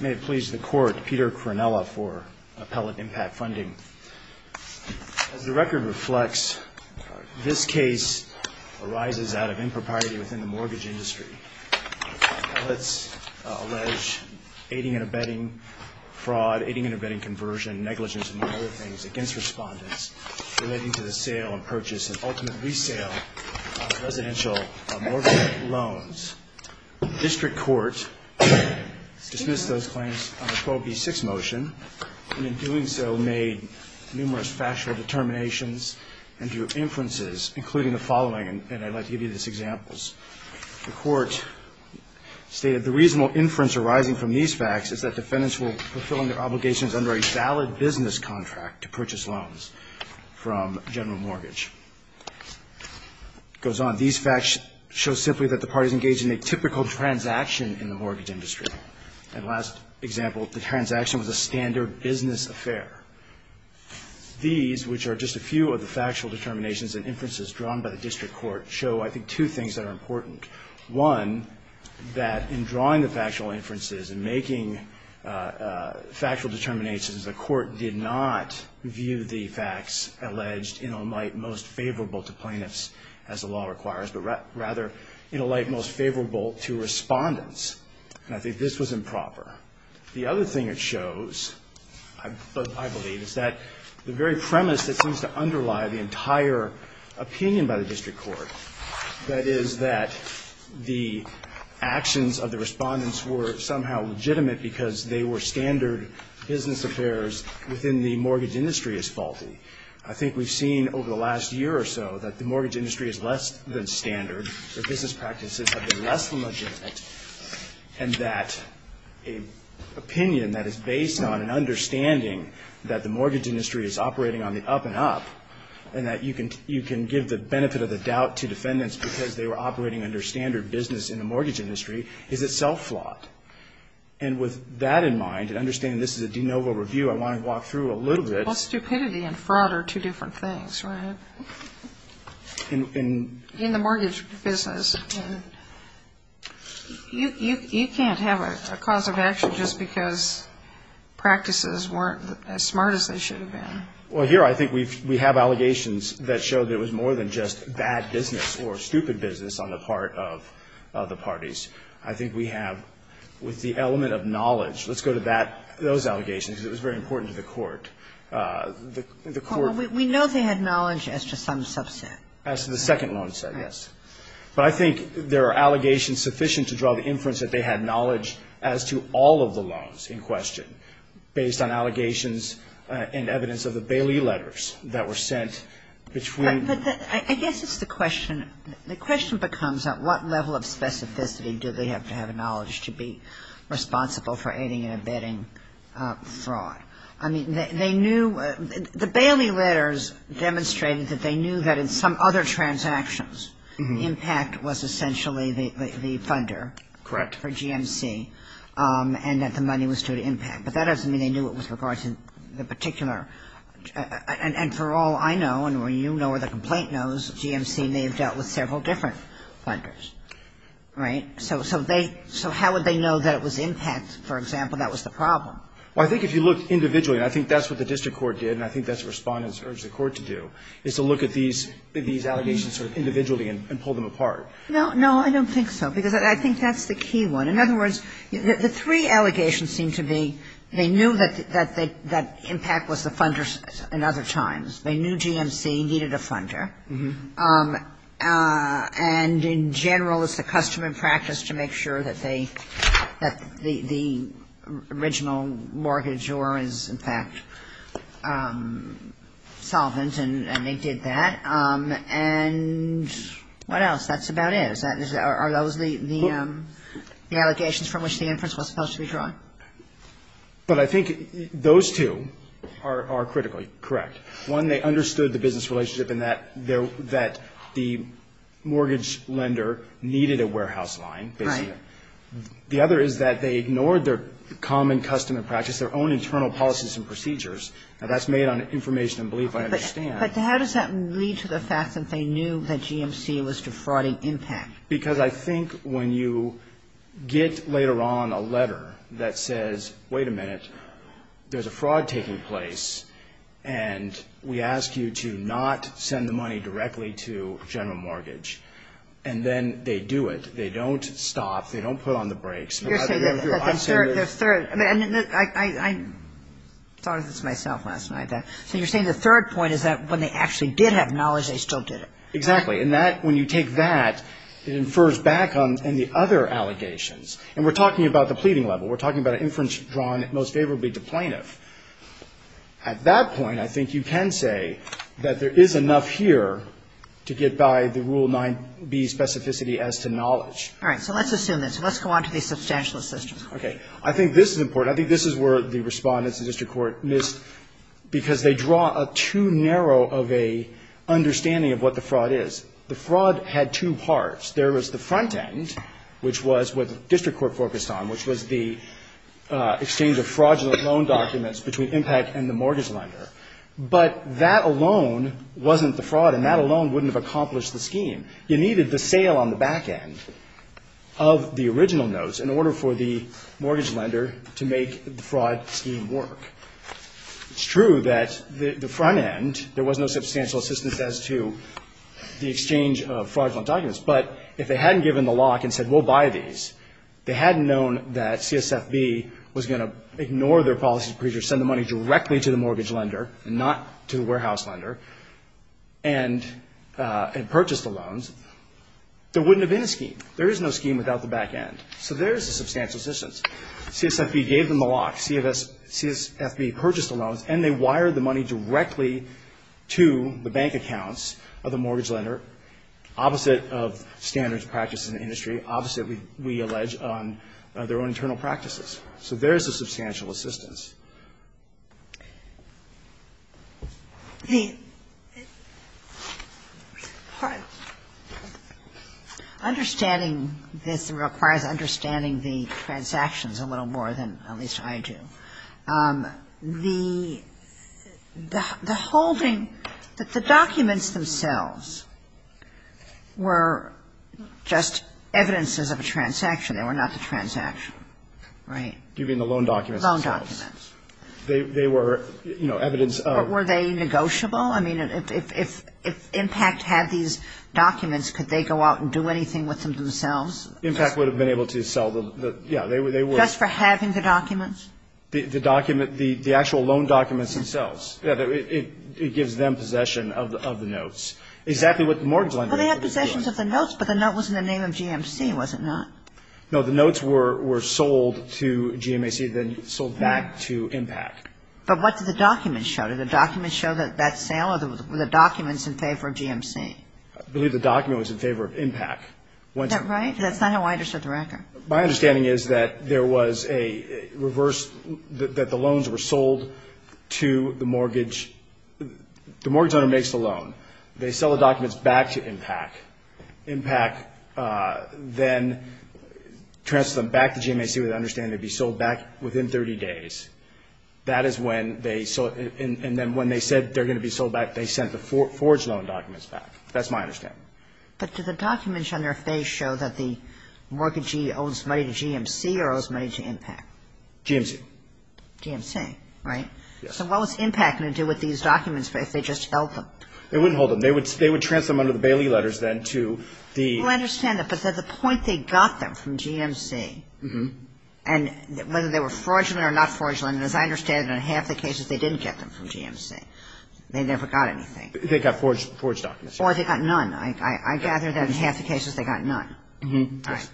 May it please the Court, Peter Cronella for Appellate Impact Funding. As the record reflects, this case arises out of impropriety within the mortgage industry. Appellates allege aiding and abetting fraud, aiding and abetting conversion, negligence, and other things against respondents relating to the sale and purchase and ultimate resale of residential mortgage loans. The District Court dismissed those claims on the 12B6 motion and in doing so made numerous factual determinations and drew inferences including the following, and I'd like to give you these examples. The Court stated the reasonable inference arising from these facts is that defendants were fulfilling their obligations under a valid business contract to purchase loans from General Mortgage. It goes on. These facts show simply that the parties engaged in a typical transaction in the mortgage industry. And last example, the transaction was a standard business affair. These, which are just a few of the factual determinations and inferences drawn by the District Court, show I think two things that are important. One, that in drawing the factual inferences and making factual determinations, the Court did not view the facts alleged in a light most favorable to plaintiffs as the law requires, but rather in a light most favorable to respondents. And I think this was improper. The other thing it shows, I believe, is that the very premise that seems to underlie the entire opinion by the District Court, that is that the actions of the respondents were somehow legitimate because they were standard business affairs within the mortgage industry, is faulty. I think we've seen over the last year or so that the mortgage industry is less than standard, that business practices have been less than legitimate, and that an opinion that is based on an understanding that the mortgage industry is operating on the up and up, and that you can give the benefit of the doubt to defendants because they were operating under standard business in the mortgage industry, is itself flawed. And with that in mind, and understanding this is a de novo review, I want to walk through a little bit. Well, stupidity and fraud are two different things, right? In the mortgage business. You can't have a cause of action just because practices weren't as smart as they should have been. Well, here I think we have allegations that show there was more than just bad business or stupid business on the part of the parties. I think we have, with the element of knowledge, let's go to that, those allegations. It was very important to the Court. The Court ---- Well, we know they had knowledge as to some subset. As to the second loan set, yes. But I think there are allegations sufficient to draw the inference that they had knowledge as to all of the loans in question based on allegations and evidence of the Bailey letters that were sent between ---- But I guess it's the question. The question becomes at what level of specificity do they have to have knowledge to be responsible for aiding and abetting fraud? I mean, they knew the Bailey letters demonstrated that they knew that in some other transactions, impact was essentially the funder. Correct. For GMC. And that the money was due to impact. But that doesn't mean they knew it with regard to the particular. And for all I know, and you know or the complaint knows, GMC may have dealt with several different funders. Right? So they ---- so how would they know that it was impact, for example, that was the problem? Well, I think if you look individually, and I think that's what the district court did, and I think that's what Respondents urged the Court to do, is to look at these allegations sort of individually and pull them apart. No, no, I don't think so, because I think that's the key one. In other words, the three allegations seem to be they knew that impact was the funder in other times. They knew GMC needed a funder. And in general, it's the custom and practice to make sure that they ---- that the original mortgage or is, in fact, solvent, and they did that. And what else? That's about it. Are those the allegations from which the inference was supposed to be drawn? But I think those two are critically correct. One, they understood the business relationship and that the mortgage lender needed a warehouse line, basically. Right. The other is that they ignored their common custom and practice, their own internal policies and procedures. Now, that's made on information and belief, I understand. But how does that lead to the fact that they knew that GMC was defrauding impact? Because I think when you get later on a letter that says, wait a minute, there's a fraud taking place, and we ask you to not send the money directly to General Mortgage, and then they do it, they don't stop, they don't put on the brakes. You're saying that the third ---- I thought of this myself last night. So you're saying the third point is that when they actually did have knowledge, they still did it. Exactly. And that, when you take that, it infers back on the other allegations. And we're talking about the pleading level. We're talking about an inference drawn most favorably to plaintiff. At that point, I think you can say that there is enough here to get by the Rule 9B specificity as to knowledge. All right. So let's assume this. Let's go on to the substantial assistance. Okay. I think this is important. I think this is where the Respondents and district court missed, because they draw a too narrow of a understanding of what the fraud is. The fraud had two parts. There was the front end, which was what the district court focused on, which was the exchange of fraudulent loan documents between Impact and the mortgage lender. But that alone wasn't the fraud, and that alone wouldn't have accomplished the scheme. You needed the sale on the back end of the original notes in order for the mortgage lender to make the fraud scheme work. It's true that the front end, there was no substantial assistance as to the exchange of fraudulent documents. But if they hadn't given the lock and said we'll buy these, they hadn't known that CSFB was going to ignore their policy procedure, send the money directly to the mortgage lender and not to the warehouse lender, and purchase the loans, there wouldn't have been a scheme. There is no scheme without the back end. So there is a substantial assistance. CSFB gave them the lock. CSFB purchased the loans, and they wired the money directly to the bank accounts of the mortgage lender, opposite of standards practiced in the industry, opposite, we allege, on their own internal practices. So there is a substantial assistance. Understanding this requires understanding the transactions a little more than at least I do. The holding, the documents themselves were just evidences of a transaction, they were not the transaction, right? Loan documents. They were, you know, evidence of. Were they negotiable? I mean, if IMPACT had these documents, could they go out and do anything with them themselves? IMPACT would have been able to sell the, yeah, they were. Just for having the documents? The document, the actual loan documents themselves. It gives them possession of the notes. Exactly what the mortgage lender. Well, they had possessions of the notes, but the note was in the name of GMC, was it not? No, the notes were sold to GMC, then sold back to IMPACT. But what did the documents show? Did the documents show that that sale or were the documents in favor of GMC? I believe the document was in favor of IMPACT. Is that right? That's not how I understood the record. My understanding is that there was a reverse, that the loans were sold to the mortgage. The mortgage owner makes the loan. They sell the documents back to IMPACT. IMPACT then transfers them back to GMAC with the understanding they'd be sold back within 30 days. That is when they, and then when they said they're going to be sold back, they sent the forged loan documents back. That's my understanding. But did the documents on their face show that the mortgagee owes money to GMC or owes money to IMPACT? GMC. GMC, right? Yes. So what was IMPACT going to do with these documents if they just held them? They wouldn't hold them. They would transfer them under the Bailey letters then to the — Well, I understand that, but at the point they got them from GMC, and whether they were forged or not forged, as I understand it, in half the cases they didn't get them from GMC. They never got anything. They got forged documents. Or they got none. I gather that in half the cases they got none. Yes. All right.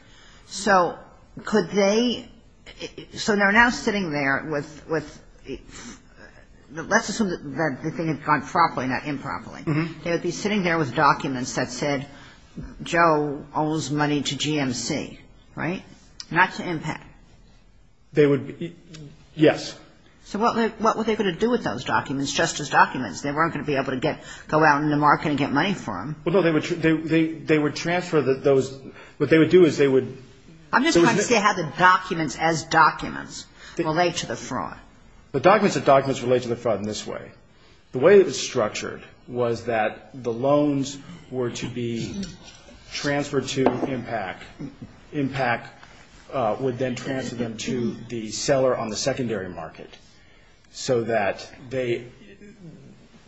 So could they — so they're now sitting there with — let's assume that the thing had gone properly, not improperly. They would be sitting there with documents that said Joe owes money to GMC, right? Not to IMPACT. They would — yes. So what were they going to do with those documents, just as documents? They weren't going to be able to go out in the market and get money for them. Well, no, they would transfer those — what they would do is they would — I'm just trying to see how the documents as documents relate to the fraud. The documents as documents relate to the fraud in this way. The way it was structured was that the loans were to be transferred to IMPACT. IMPACT would then transfer them to the seller on the secondary market so that they —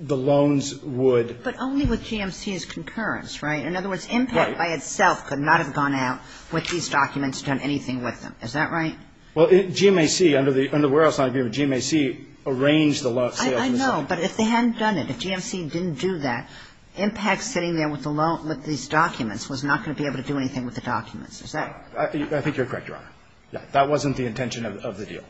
the loans would — But only with GMC's concurrence, right? In other words, IMPACT by itself could not have gone out with these documents, done anything with them. Is that right? Well, GMAC, under the — under the Warehouse Line Agreement, GMAC arranged the sales themselves. I know, but if they hadn't done it, if GMC didn't do that, IMPACT sitting there with the loan — with these documents was not going to be able to do anything with the documents. Is that — I think you're correct, Your Honor. That wasn't the intention of the deal.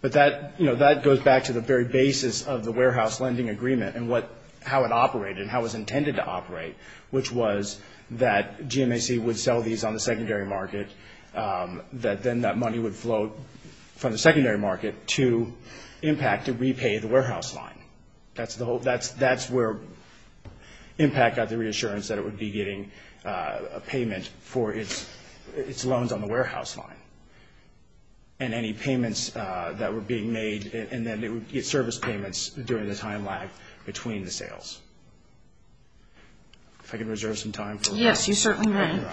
But that — you know, that goes back to the very basis of the Warehouse Lending Agreement and what — how it operated and how it was intended to operate, which was that GMAC would sell these on the secondary market, that then that money would flow from the secondary market to IMPACT to repay the Warehouse Line. That's the whole — that's where IMPACT got the reassurance that it would be getting a payment for its loans on the Warehouse Line and any payments that were being made, and then it would get service payments during the time lag between the sales. If I can reserve some time for — Yes, you certainly may. All right.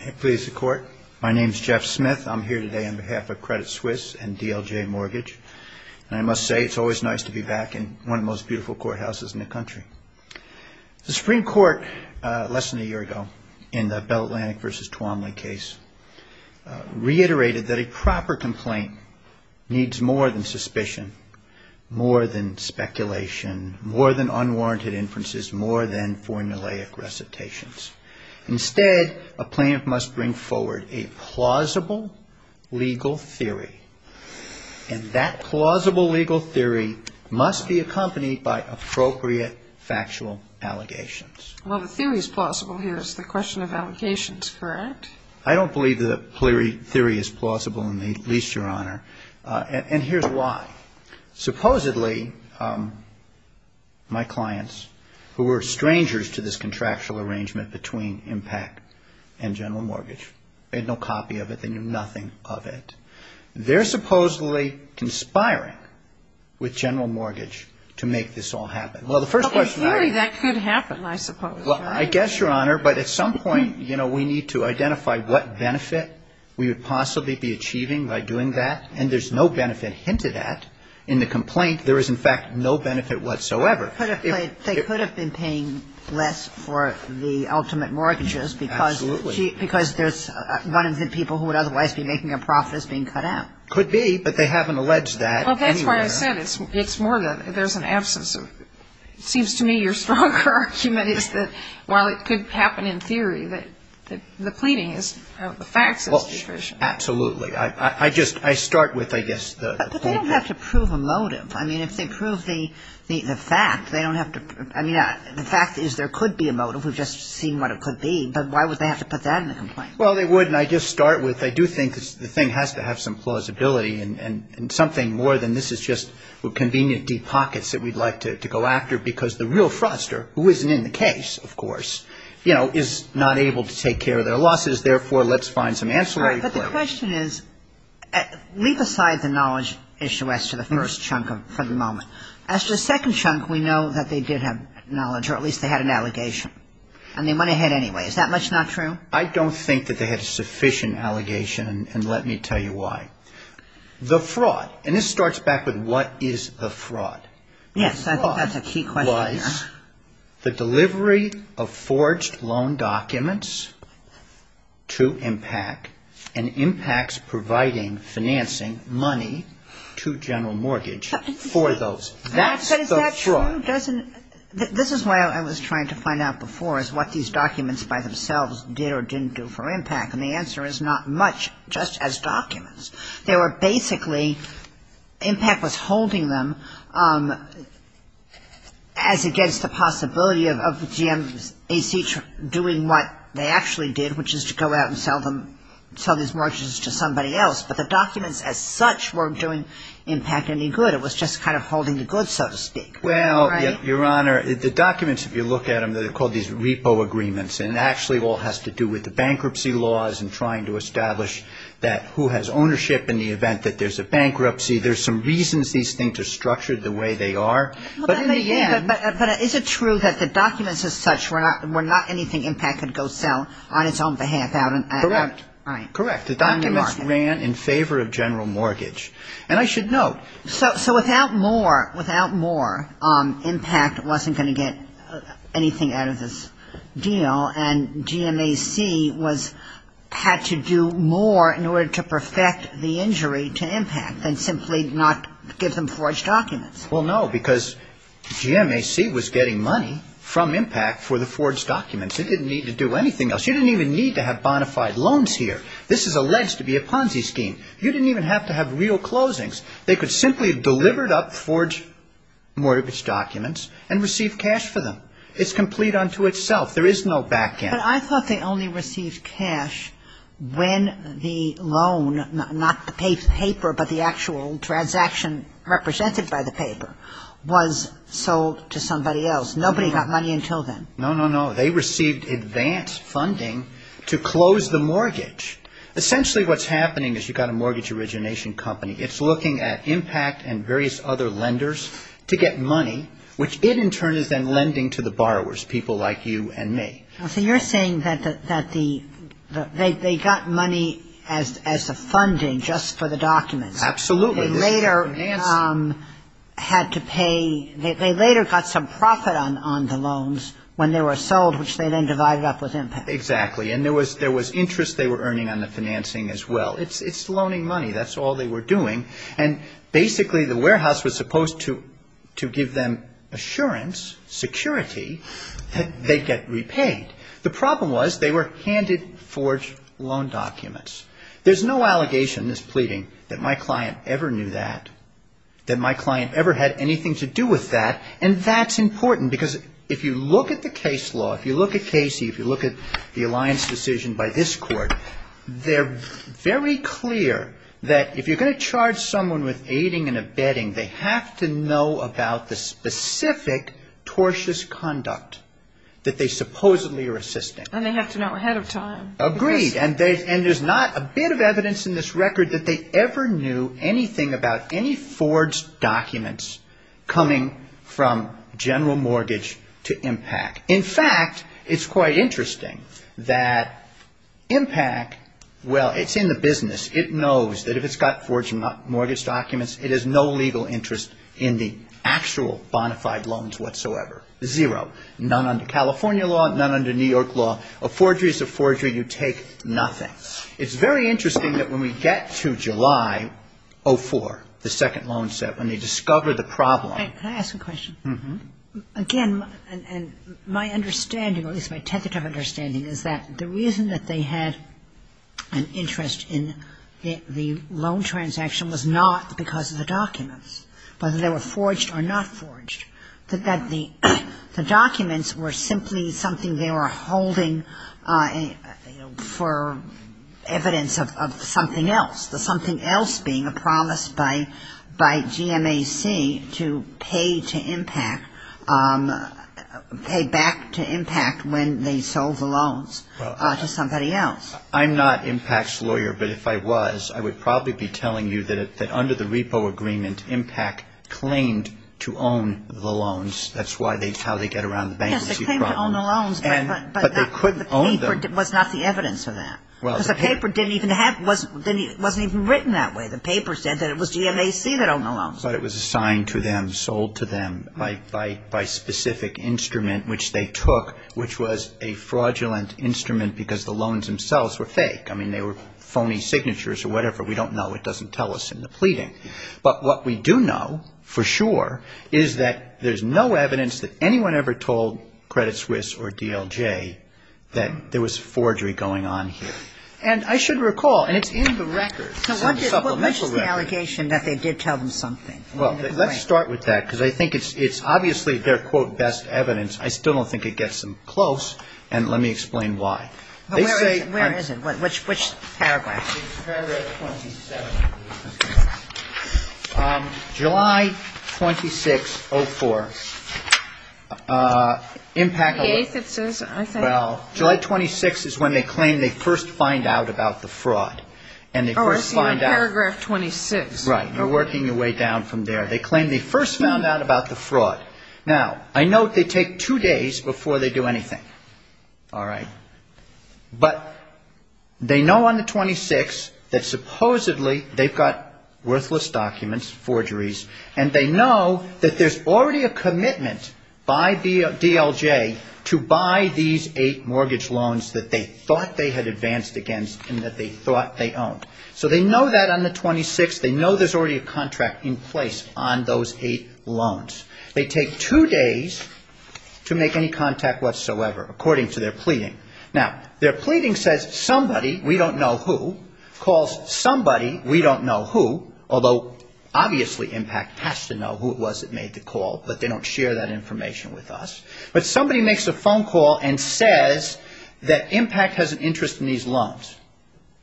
May it please the Court. My name is Jeff Smith. I'm here today on behalf of Credit Suisse and DLJ Mortgage, and I must say it's always nice to be back in one of the most beautiful courthouses in the country. The Supreme Court, less than a year ago, in the Bell Atlantic v. Twomley case, reiterated that a proper complaint needs more than suspicion, more than speculation, more than unwarranted inferences, more than formulaic recitations. Instead, a plaintiff must bring forward a plausible legal theory, and that plausible legal theory must be accompanied by appropriate factual allegations. Well, the theory is plausible here. It's the question of allegations, correct? I don't believe the theory is plausible in the least, Your Honor, and here's why. Supposedly, my clients, who were strangers to this contractual arrangement between IMPACT and General Mortgage, they had no copy of it. They knew nothing of it. They're supposedly conspiring with General Mortgage to make this all happen. Well, the first question I have — Well, in theory, that could happen, I suppose. Well, I guess, Your Honor, but at some point, you know, we need to identify what benefit we would possibly be achieving by doing that, and there's no benefit hinted at in the complaint. There is, in fact, no benefit whatsoever. They could have been paying less for the ultimate mortgages because — Absolutely. — because there's one of the people who would otherwise be making a profit is being cut out. Could be, but they haven't alleged that anywhere. Well, that's why I said it's more that there's an absence of — it seems to me your stronger argument is that while it could happen in theory, that the pleading is — the facts is sufficient. Absolutely. I just — I start with, I guess, the — But they don't have to prove a motive. I mean, if they prove the fact, they don't have to — I mean, the fact is there could be a motive. We've just seen what it could be, but why would they have to put that in the complaint? Well, they would, and I just start with I do think the thing has to have some plausibility and something more than this is just convenient deep pockets that we'd like to go after because the real fraudster, who isn't in the case, of course, you know, is not able to take care of their losses. Therefore, let's find some ancillary claims. But the question is — leave aside the knowledge issue as to the first chunk for the moment. As to the second chunk, we know that they did have knowledge, or at least they had an allegation, and they went ahead anyway. Is that much not true? I don't think that they had a sufficient allegation, and let me tell you why. The fraud — and this starts back with what is the fraud? Yes, I think that's a key question there. The delivery of forged loan documents to MPAC, and MPAC's providing financing money to General Mortgage for those. That's the fraud. But is that true? This is why I was trying to find out before is what these documents by themselves did or didn't do for MPAC, and the answer is not much, just as documents. They were basically — MPAC was holding them as against the possibility of GMAC doing what they actually did, which is to go out and sell these mortgages to somebody else. But the documents as such weren't doing MPAC any good. It was just kind of holding the goods, so to speak. Well, Your Honor, the documents, if you look at them, they're called these repo agreements, and it actually all has to do with the bankruptcy laws and trying to establish that who has ownership in the event that there's a bankruptcy. There's some reasons these things are structured the way they are. But in the end — But is it true that the documents as such were not anything MPAC could go sell on its own behalf? Correct. All right. Correct. The documents ran in favor of General Mortgage. And I should note — So without more — without more, MPAC wasn't going to get anything out of this deal, and GMAC was — had to do more in order to perfect the injury to MPAC than simply not give them forged documents. Well, no, because GMAC was getting money from MPAC for the forged documents. It didn't need to do anything else. You didn't even need to have bona fide loans here. This is alleged to be a Ponzi scheme. You didn't even have to have real closings. They could simply have delivered up forged mortgage documents and received cash for them. It's complete unto itself. There is no back end. But I thought they only received cash when the loan, not the paper, but the actual transaction represented by the paper, was sold to somebody else. Nobody got money until then. No, no, no. They received advance funding to close the mortgage. Essentially what's happening is you've got a mortgage origination company. It's looking at MPAC and various other lenders to get money, which it in turn is then lending to the borrowers, people like you and me. So you're saying that the — they got money as a funding just for the documents. Absolutely. They later had to pay — they later got some profit on the loans when they were sold, which they then divided up with MPAC. Exactly. And there was interest they were earning on the financing as well. It's loaning money. That's all they were doing. And basically the warehouse was supposed to give them assurance, security, that they'd get repaid. The problem was they were handed forged loan documents. There's no allegation in this pleading that my client ever knew that, that my client ever had anything to do with that. And that's important because if you look at the case law, if you look at Casey, if you look at the alliance decision by this court, they're very clear that if you're going to charge someone with aiding and abetting, they have to know about the specific tortious conduct that they supposedly are assisting. And they have to know ahead of time. Agreed. And there's not a bit of evidence in this record that they ever knew anything about any forged documents coming from general mortgage to MPAC. In fact, it's quite interesting that MPAC, well, it's in the business. It knows that if it's got forged mortgage documents, it has no legal interest in the actual bonafide loans whatsoever. Zero. None under California law, none under New York law. A forgery is a forgery. You take nothing. It's very interesting that when we get to July 04, the second loan set, when they discover the problem. Can I ask a question? Mm-hmm. Again, my understanding, at least my tentative understanding, is that the reason that they had an interest in the loan transaction was not because of the documents, whether they were forged or not forged, that the documents were simply something they were holding for evidence of something else, something else being a promise by GMAC to pay to MPAC, pay back to MPAC when they sold the loans to somebody else. I'm not MPAC's lawyer, but if I was, I would probably be telling you that under the repo agreement, MPAC claimed to own the loans. That's how they get around the bankruptcy problem. Yes, they claim to own the loans, but the paper was not the evidence of that. Because the paper wasn't even written that way. The paper said that it was GMAC that owned the loans. But it was assigned to them, sold to them by specific instrument which they took, which was a fraudulent instrument because the loans themselves were fake. I mean, they were phony signatures or whatever. We don't know. It doesn't tell us in the pleading. But what we do know for sure is that there's no evidence that anyone ever told Credit Suisse or DLJ that there was forgery going on here. And I should recall, and it's in the record, some supplemental record. So what is the allegation that they did tell them something? Well, let's start with that, because I think it's obviously their, quote, best evidence. I still don't think it gets them close. And let me explain why. Where is it? Which paragraph? It's paragraph 27. July 26, 04. July 26 is when they claim they first find out about the fraud. Oh, I see. In paragraph 26. Right. You're working your way down from there. They claim they first found out about the fraud. Now, I note they take two days before they do anything. All right. But they know on the 26 that supposedly they've got worthless documents, forgeries, and they know that there's already a commitment by DLJ to buy these eight mortgage loans that they thought they had advanced against and that they thought they owned. So they know that on the 26. They know there's already a contract in place on those eight loans. They take two days to make any contact whatsoever, according to their pleading. Now, their pleading says somebody, we don't know who, calls somebody, we don't know who, although obviously IMPACT has to know who it was that made the call, but they don't share that information with us. But somebody makes a phone call and says that IMPACT has an interest in these loans.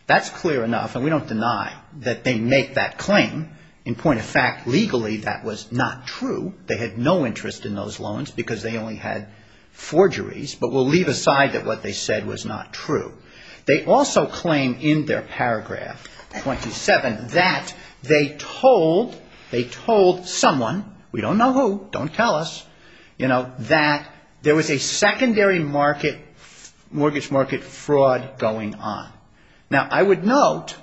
That's clear enough, and we don't deny that they make that claim. In point of fact, legally that was not true. They had no interest in those loans because they only had forgeries. But we'll leave aside that what they said was not true. They also claim in their paragraph 27 that they told someone, we don't know who, don't tell us, you know, that there was a secondary mortgage market fraud going on. Now, I would note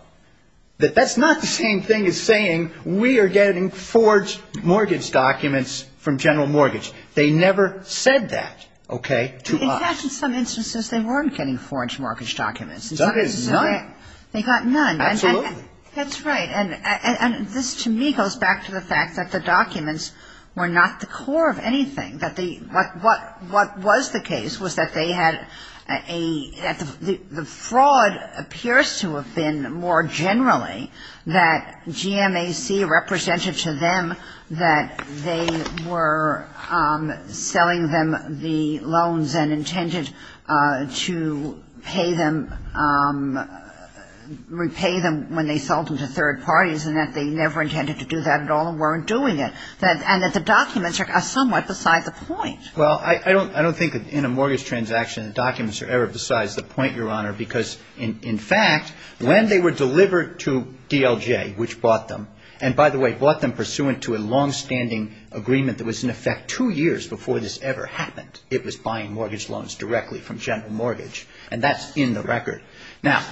that that's not the same thing as saying we are getting forged mortgage documents from General Mortgage. They never said that, okay, to us. In some instances they weren't getting forged mortgage documents. In some instances they got none. Absolutely. That's right. And this to me goes back to the fact that the documents were not the core of anything. What was the case was that they had a the fraud appears to have been more generally that GMAC represented to them that they were selling them the loans and intended to pay them, repay them when they sold them to third parties and that they never intended to do that at all and weren't doing it. And that the documents are somewhat beside the point. Well, I don't think in a mortgage transaction documents are ever besides the point, Your Honor, because in fact when they were delivered to DLJ, which bought them, and by the way, bought them pursuant to a longstanding agreement that was in effect two years before this ever happened. It was buying mortgage loans directly from General Mortgage. And that's in the record. Now,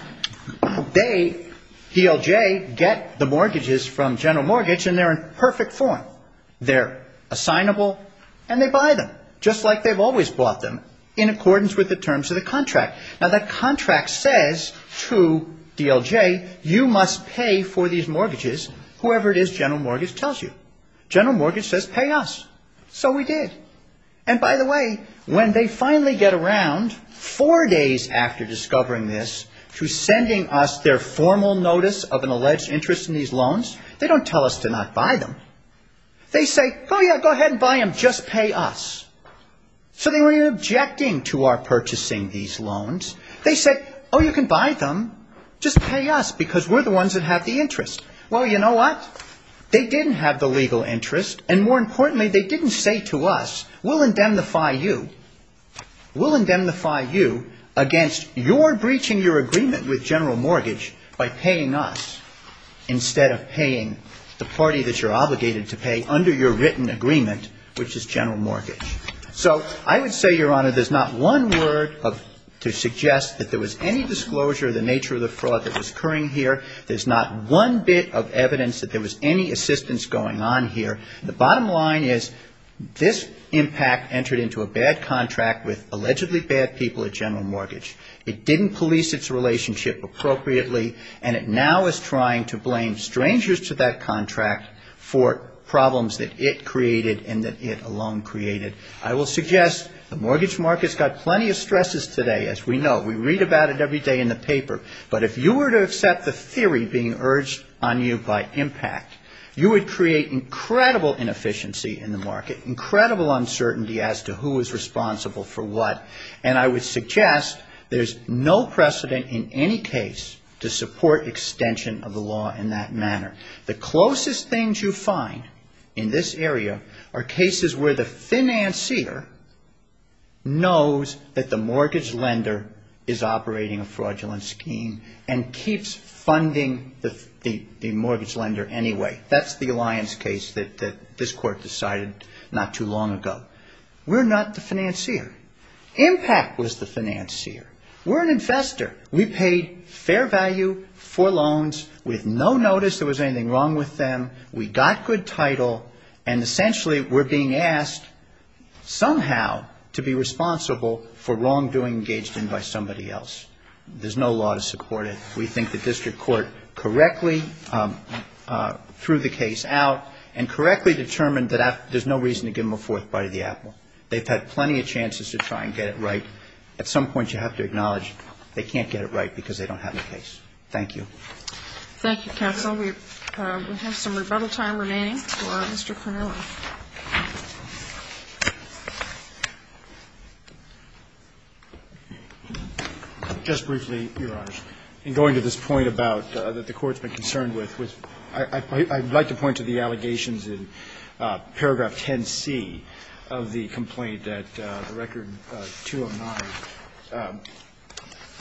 they, DLJ, get the mortgages from General Mortgage and they're in perfect form. They're assignable and they buy them just like they've always bought them in accordance with the terms of the contract. Now, the contract says to DLJ, you must pay for these mortgages, whoever it is General Mortgage tells you. General Mortgage says pay us. So we did. And by the way, when they finally get around four days after discovering this to sending us their formal notice of an alleged interest in these loans, they don't tell us to not buy them. They say, oh, yeah, go ahead and buy them. Just pay us. So they were objecting to our purchasing these loans. They said, oh, you can buy them. Just pay us because we're the ones that have the interest. Well, you know what? They didn't have the legal interest. And more importantly, they didn't say to us, we'll indemnify you. We'll indemnify you against your breaching your agreement with General Mortgage by paying us instead of paying the party that you're obligated to pay under your written agreement, which is General Mortgage. So I would say, Your Honor, there's not one word to suggest that there was any disclosure of the nature of the fraud that was occurring here. There's not one bit of evidence that there was any assistance going on here. The bottom line is this impact entered into a bad contract with allegedly bad people at General Mortgage. It didn't police its relationship appropriately. And it now is trying to blame strangers to that contract for problems that it created and that it alone created. I will suggest the mortgage market's got plenty of stresses today, as we know. We read about it every day in the paper. But if you were to accept the theory being urged on you by impact, you would create incredible inefficiency in the market, incredible uncertainty as to who is responsible for what. And I would suggest there's no precedent in any case to support extension of the law in that manner. The closest things you find in this area are cases where the financier knows that the mortgage lender is operating a fraudulent scheme and keeps funding the mortgage lender anyway. That's the Alliance case that this Court decided not too long ago. We're not the financier. Impact was the financier. We're an investor. We paid fair value for loans. We have no notice there was anything wrong with them. We got good title. And essentially we're being asked somehow to be responsible for wrongdoing engaged in by somebody else. There's no law to support it. We think the district court correctly threw the case out and correctly determined that there's no reason to give them a fourth bite of the apple. They've had plenty of chances to try and get it right. At some point, you have to acknowledge they can't get it right because they don't have the case. Thank you. Thank you, counsel. We have some rebuttal time remaining for Mr. Cronella. Just briefly, Your Honors, in going to this point about that the Court's been concerned with, I'd like to point to the allegations in paragraph 10C of the complaint at Record 209.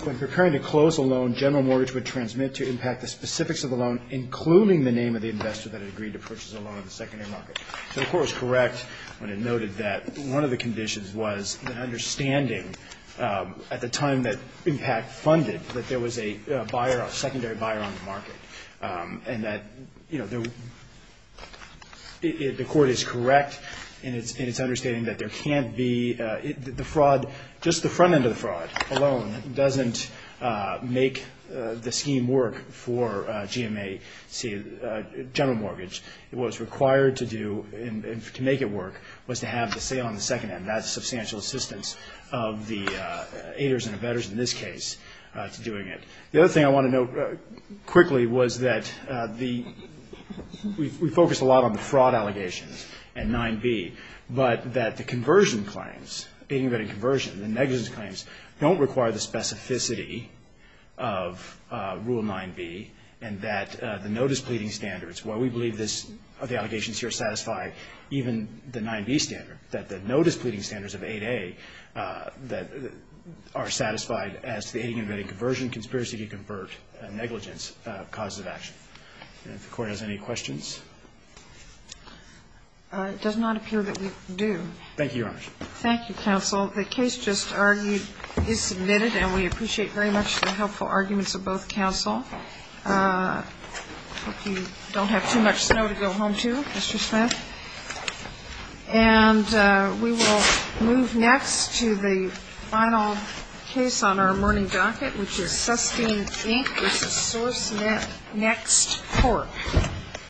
When preparing to close a loan, general mortgage would transmit to impact the specifics of the loan, including the name of the investor that had agreed to purchase a loan in the secondary market. The Court was correct when it noted that one of the conditions was an understanding at the time that impact funded that there was a buyer, a secondary buyer on the market, and that, you know, the Court is correct in its understanding that there can't be the fraud. Just the front end of the fraud alone doesn't make the scheme work for GMAC general mortgage. What was required to do to make it work was to have the sale on the second end. That's substantial assistance of the aiders and abettors in this case to doing it. The other thing I want to note quickly was that we focused a lot on the fraud allegations and 9B, but that the conversion claims, aiding and abetting conversion, the negligence claims, don't require the specificity of Rule 9B and that the notice pleading standards, while we believe the allegations here satisfy even the 9B standard, that the notice pleading standards of 8A are satisfied as to the aiding and abetting conversion, conspiracy to convert, negligence, causes of action. If the Court has any questions. It does not appear that we do. Thank you, Your Honor. Thank you, counsel. The case just argued is submitted, and we appreciate very much the helpful arguments of both counsel. I hope you don't have too much snow to go home to, Mr. Smith. And we will move next to the final case on our morning docket, which is Sustene, Inc. v. SourceNet, next court.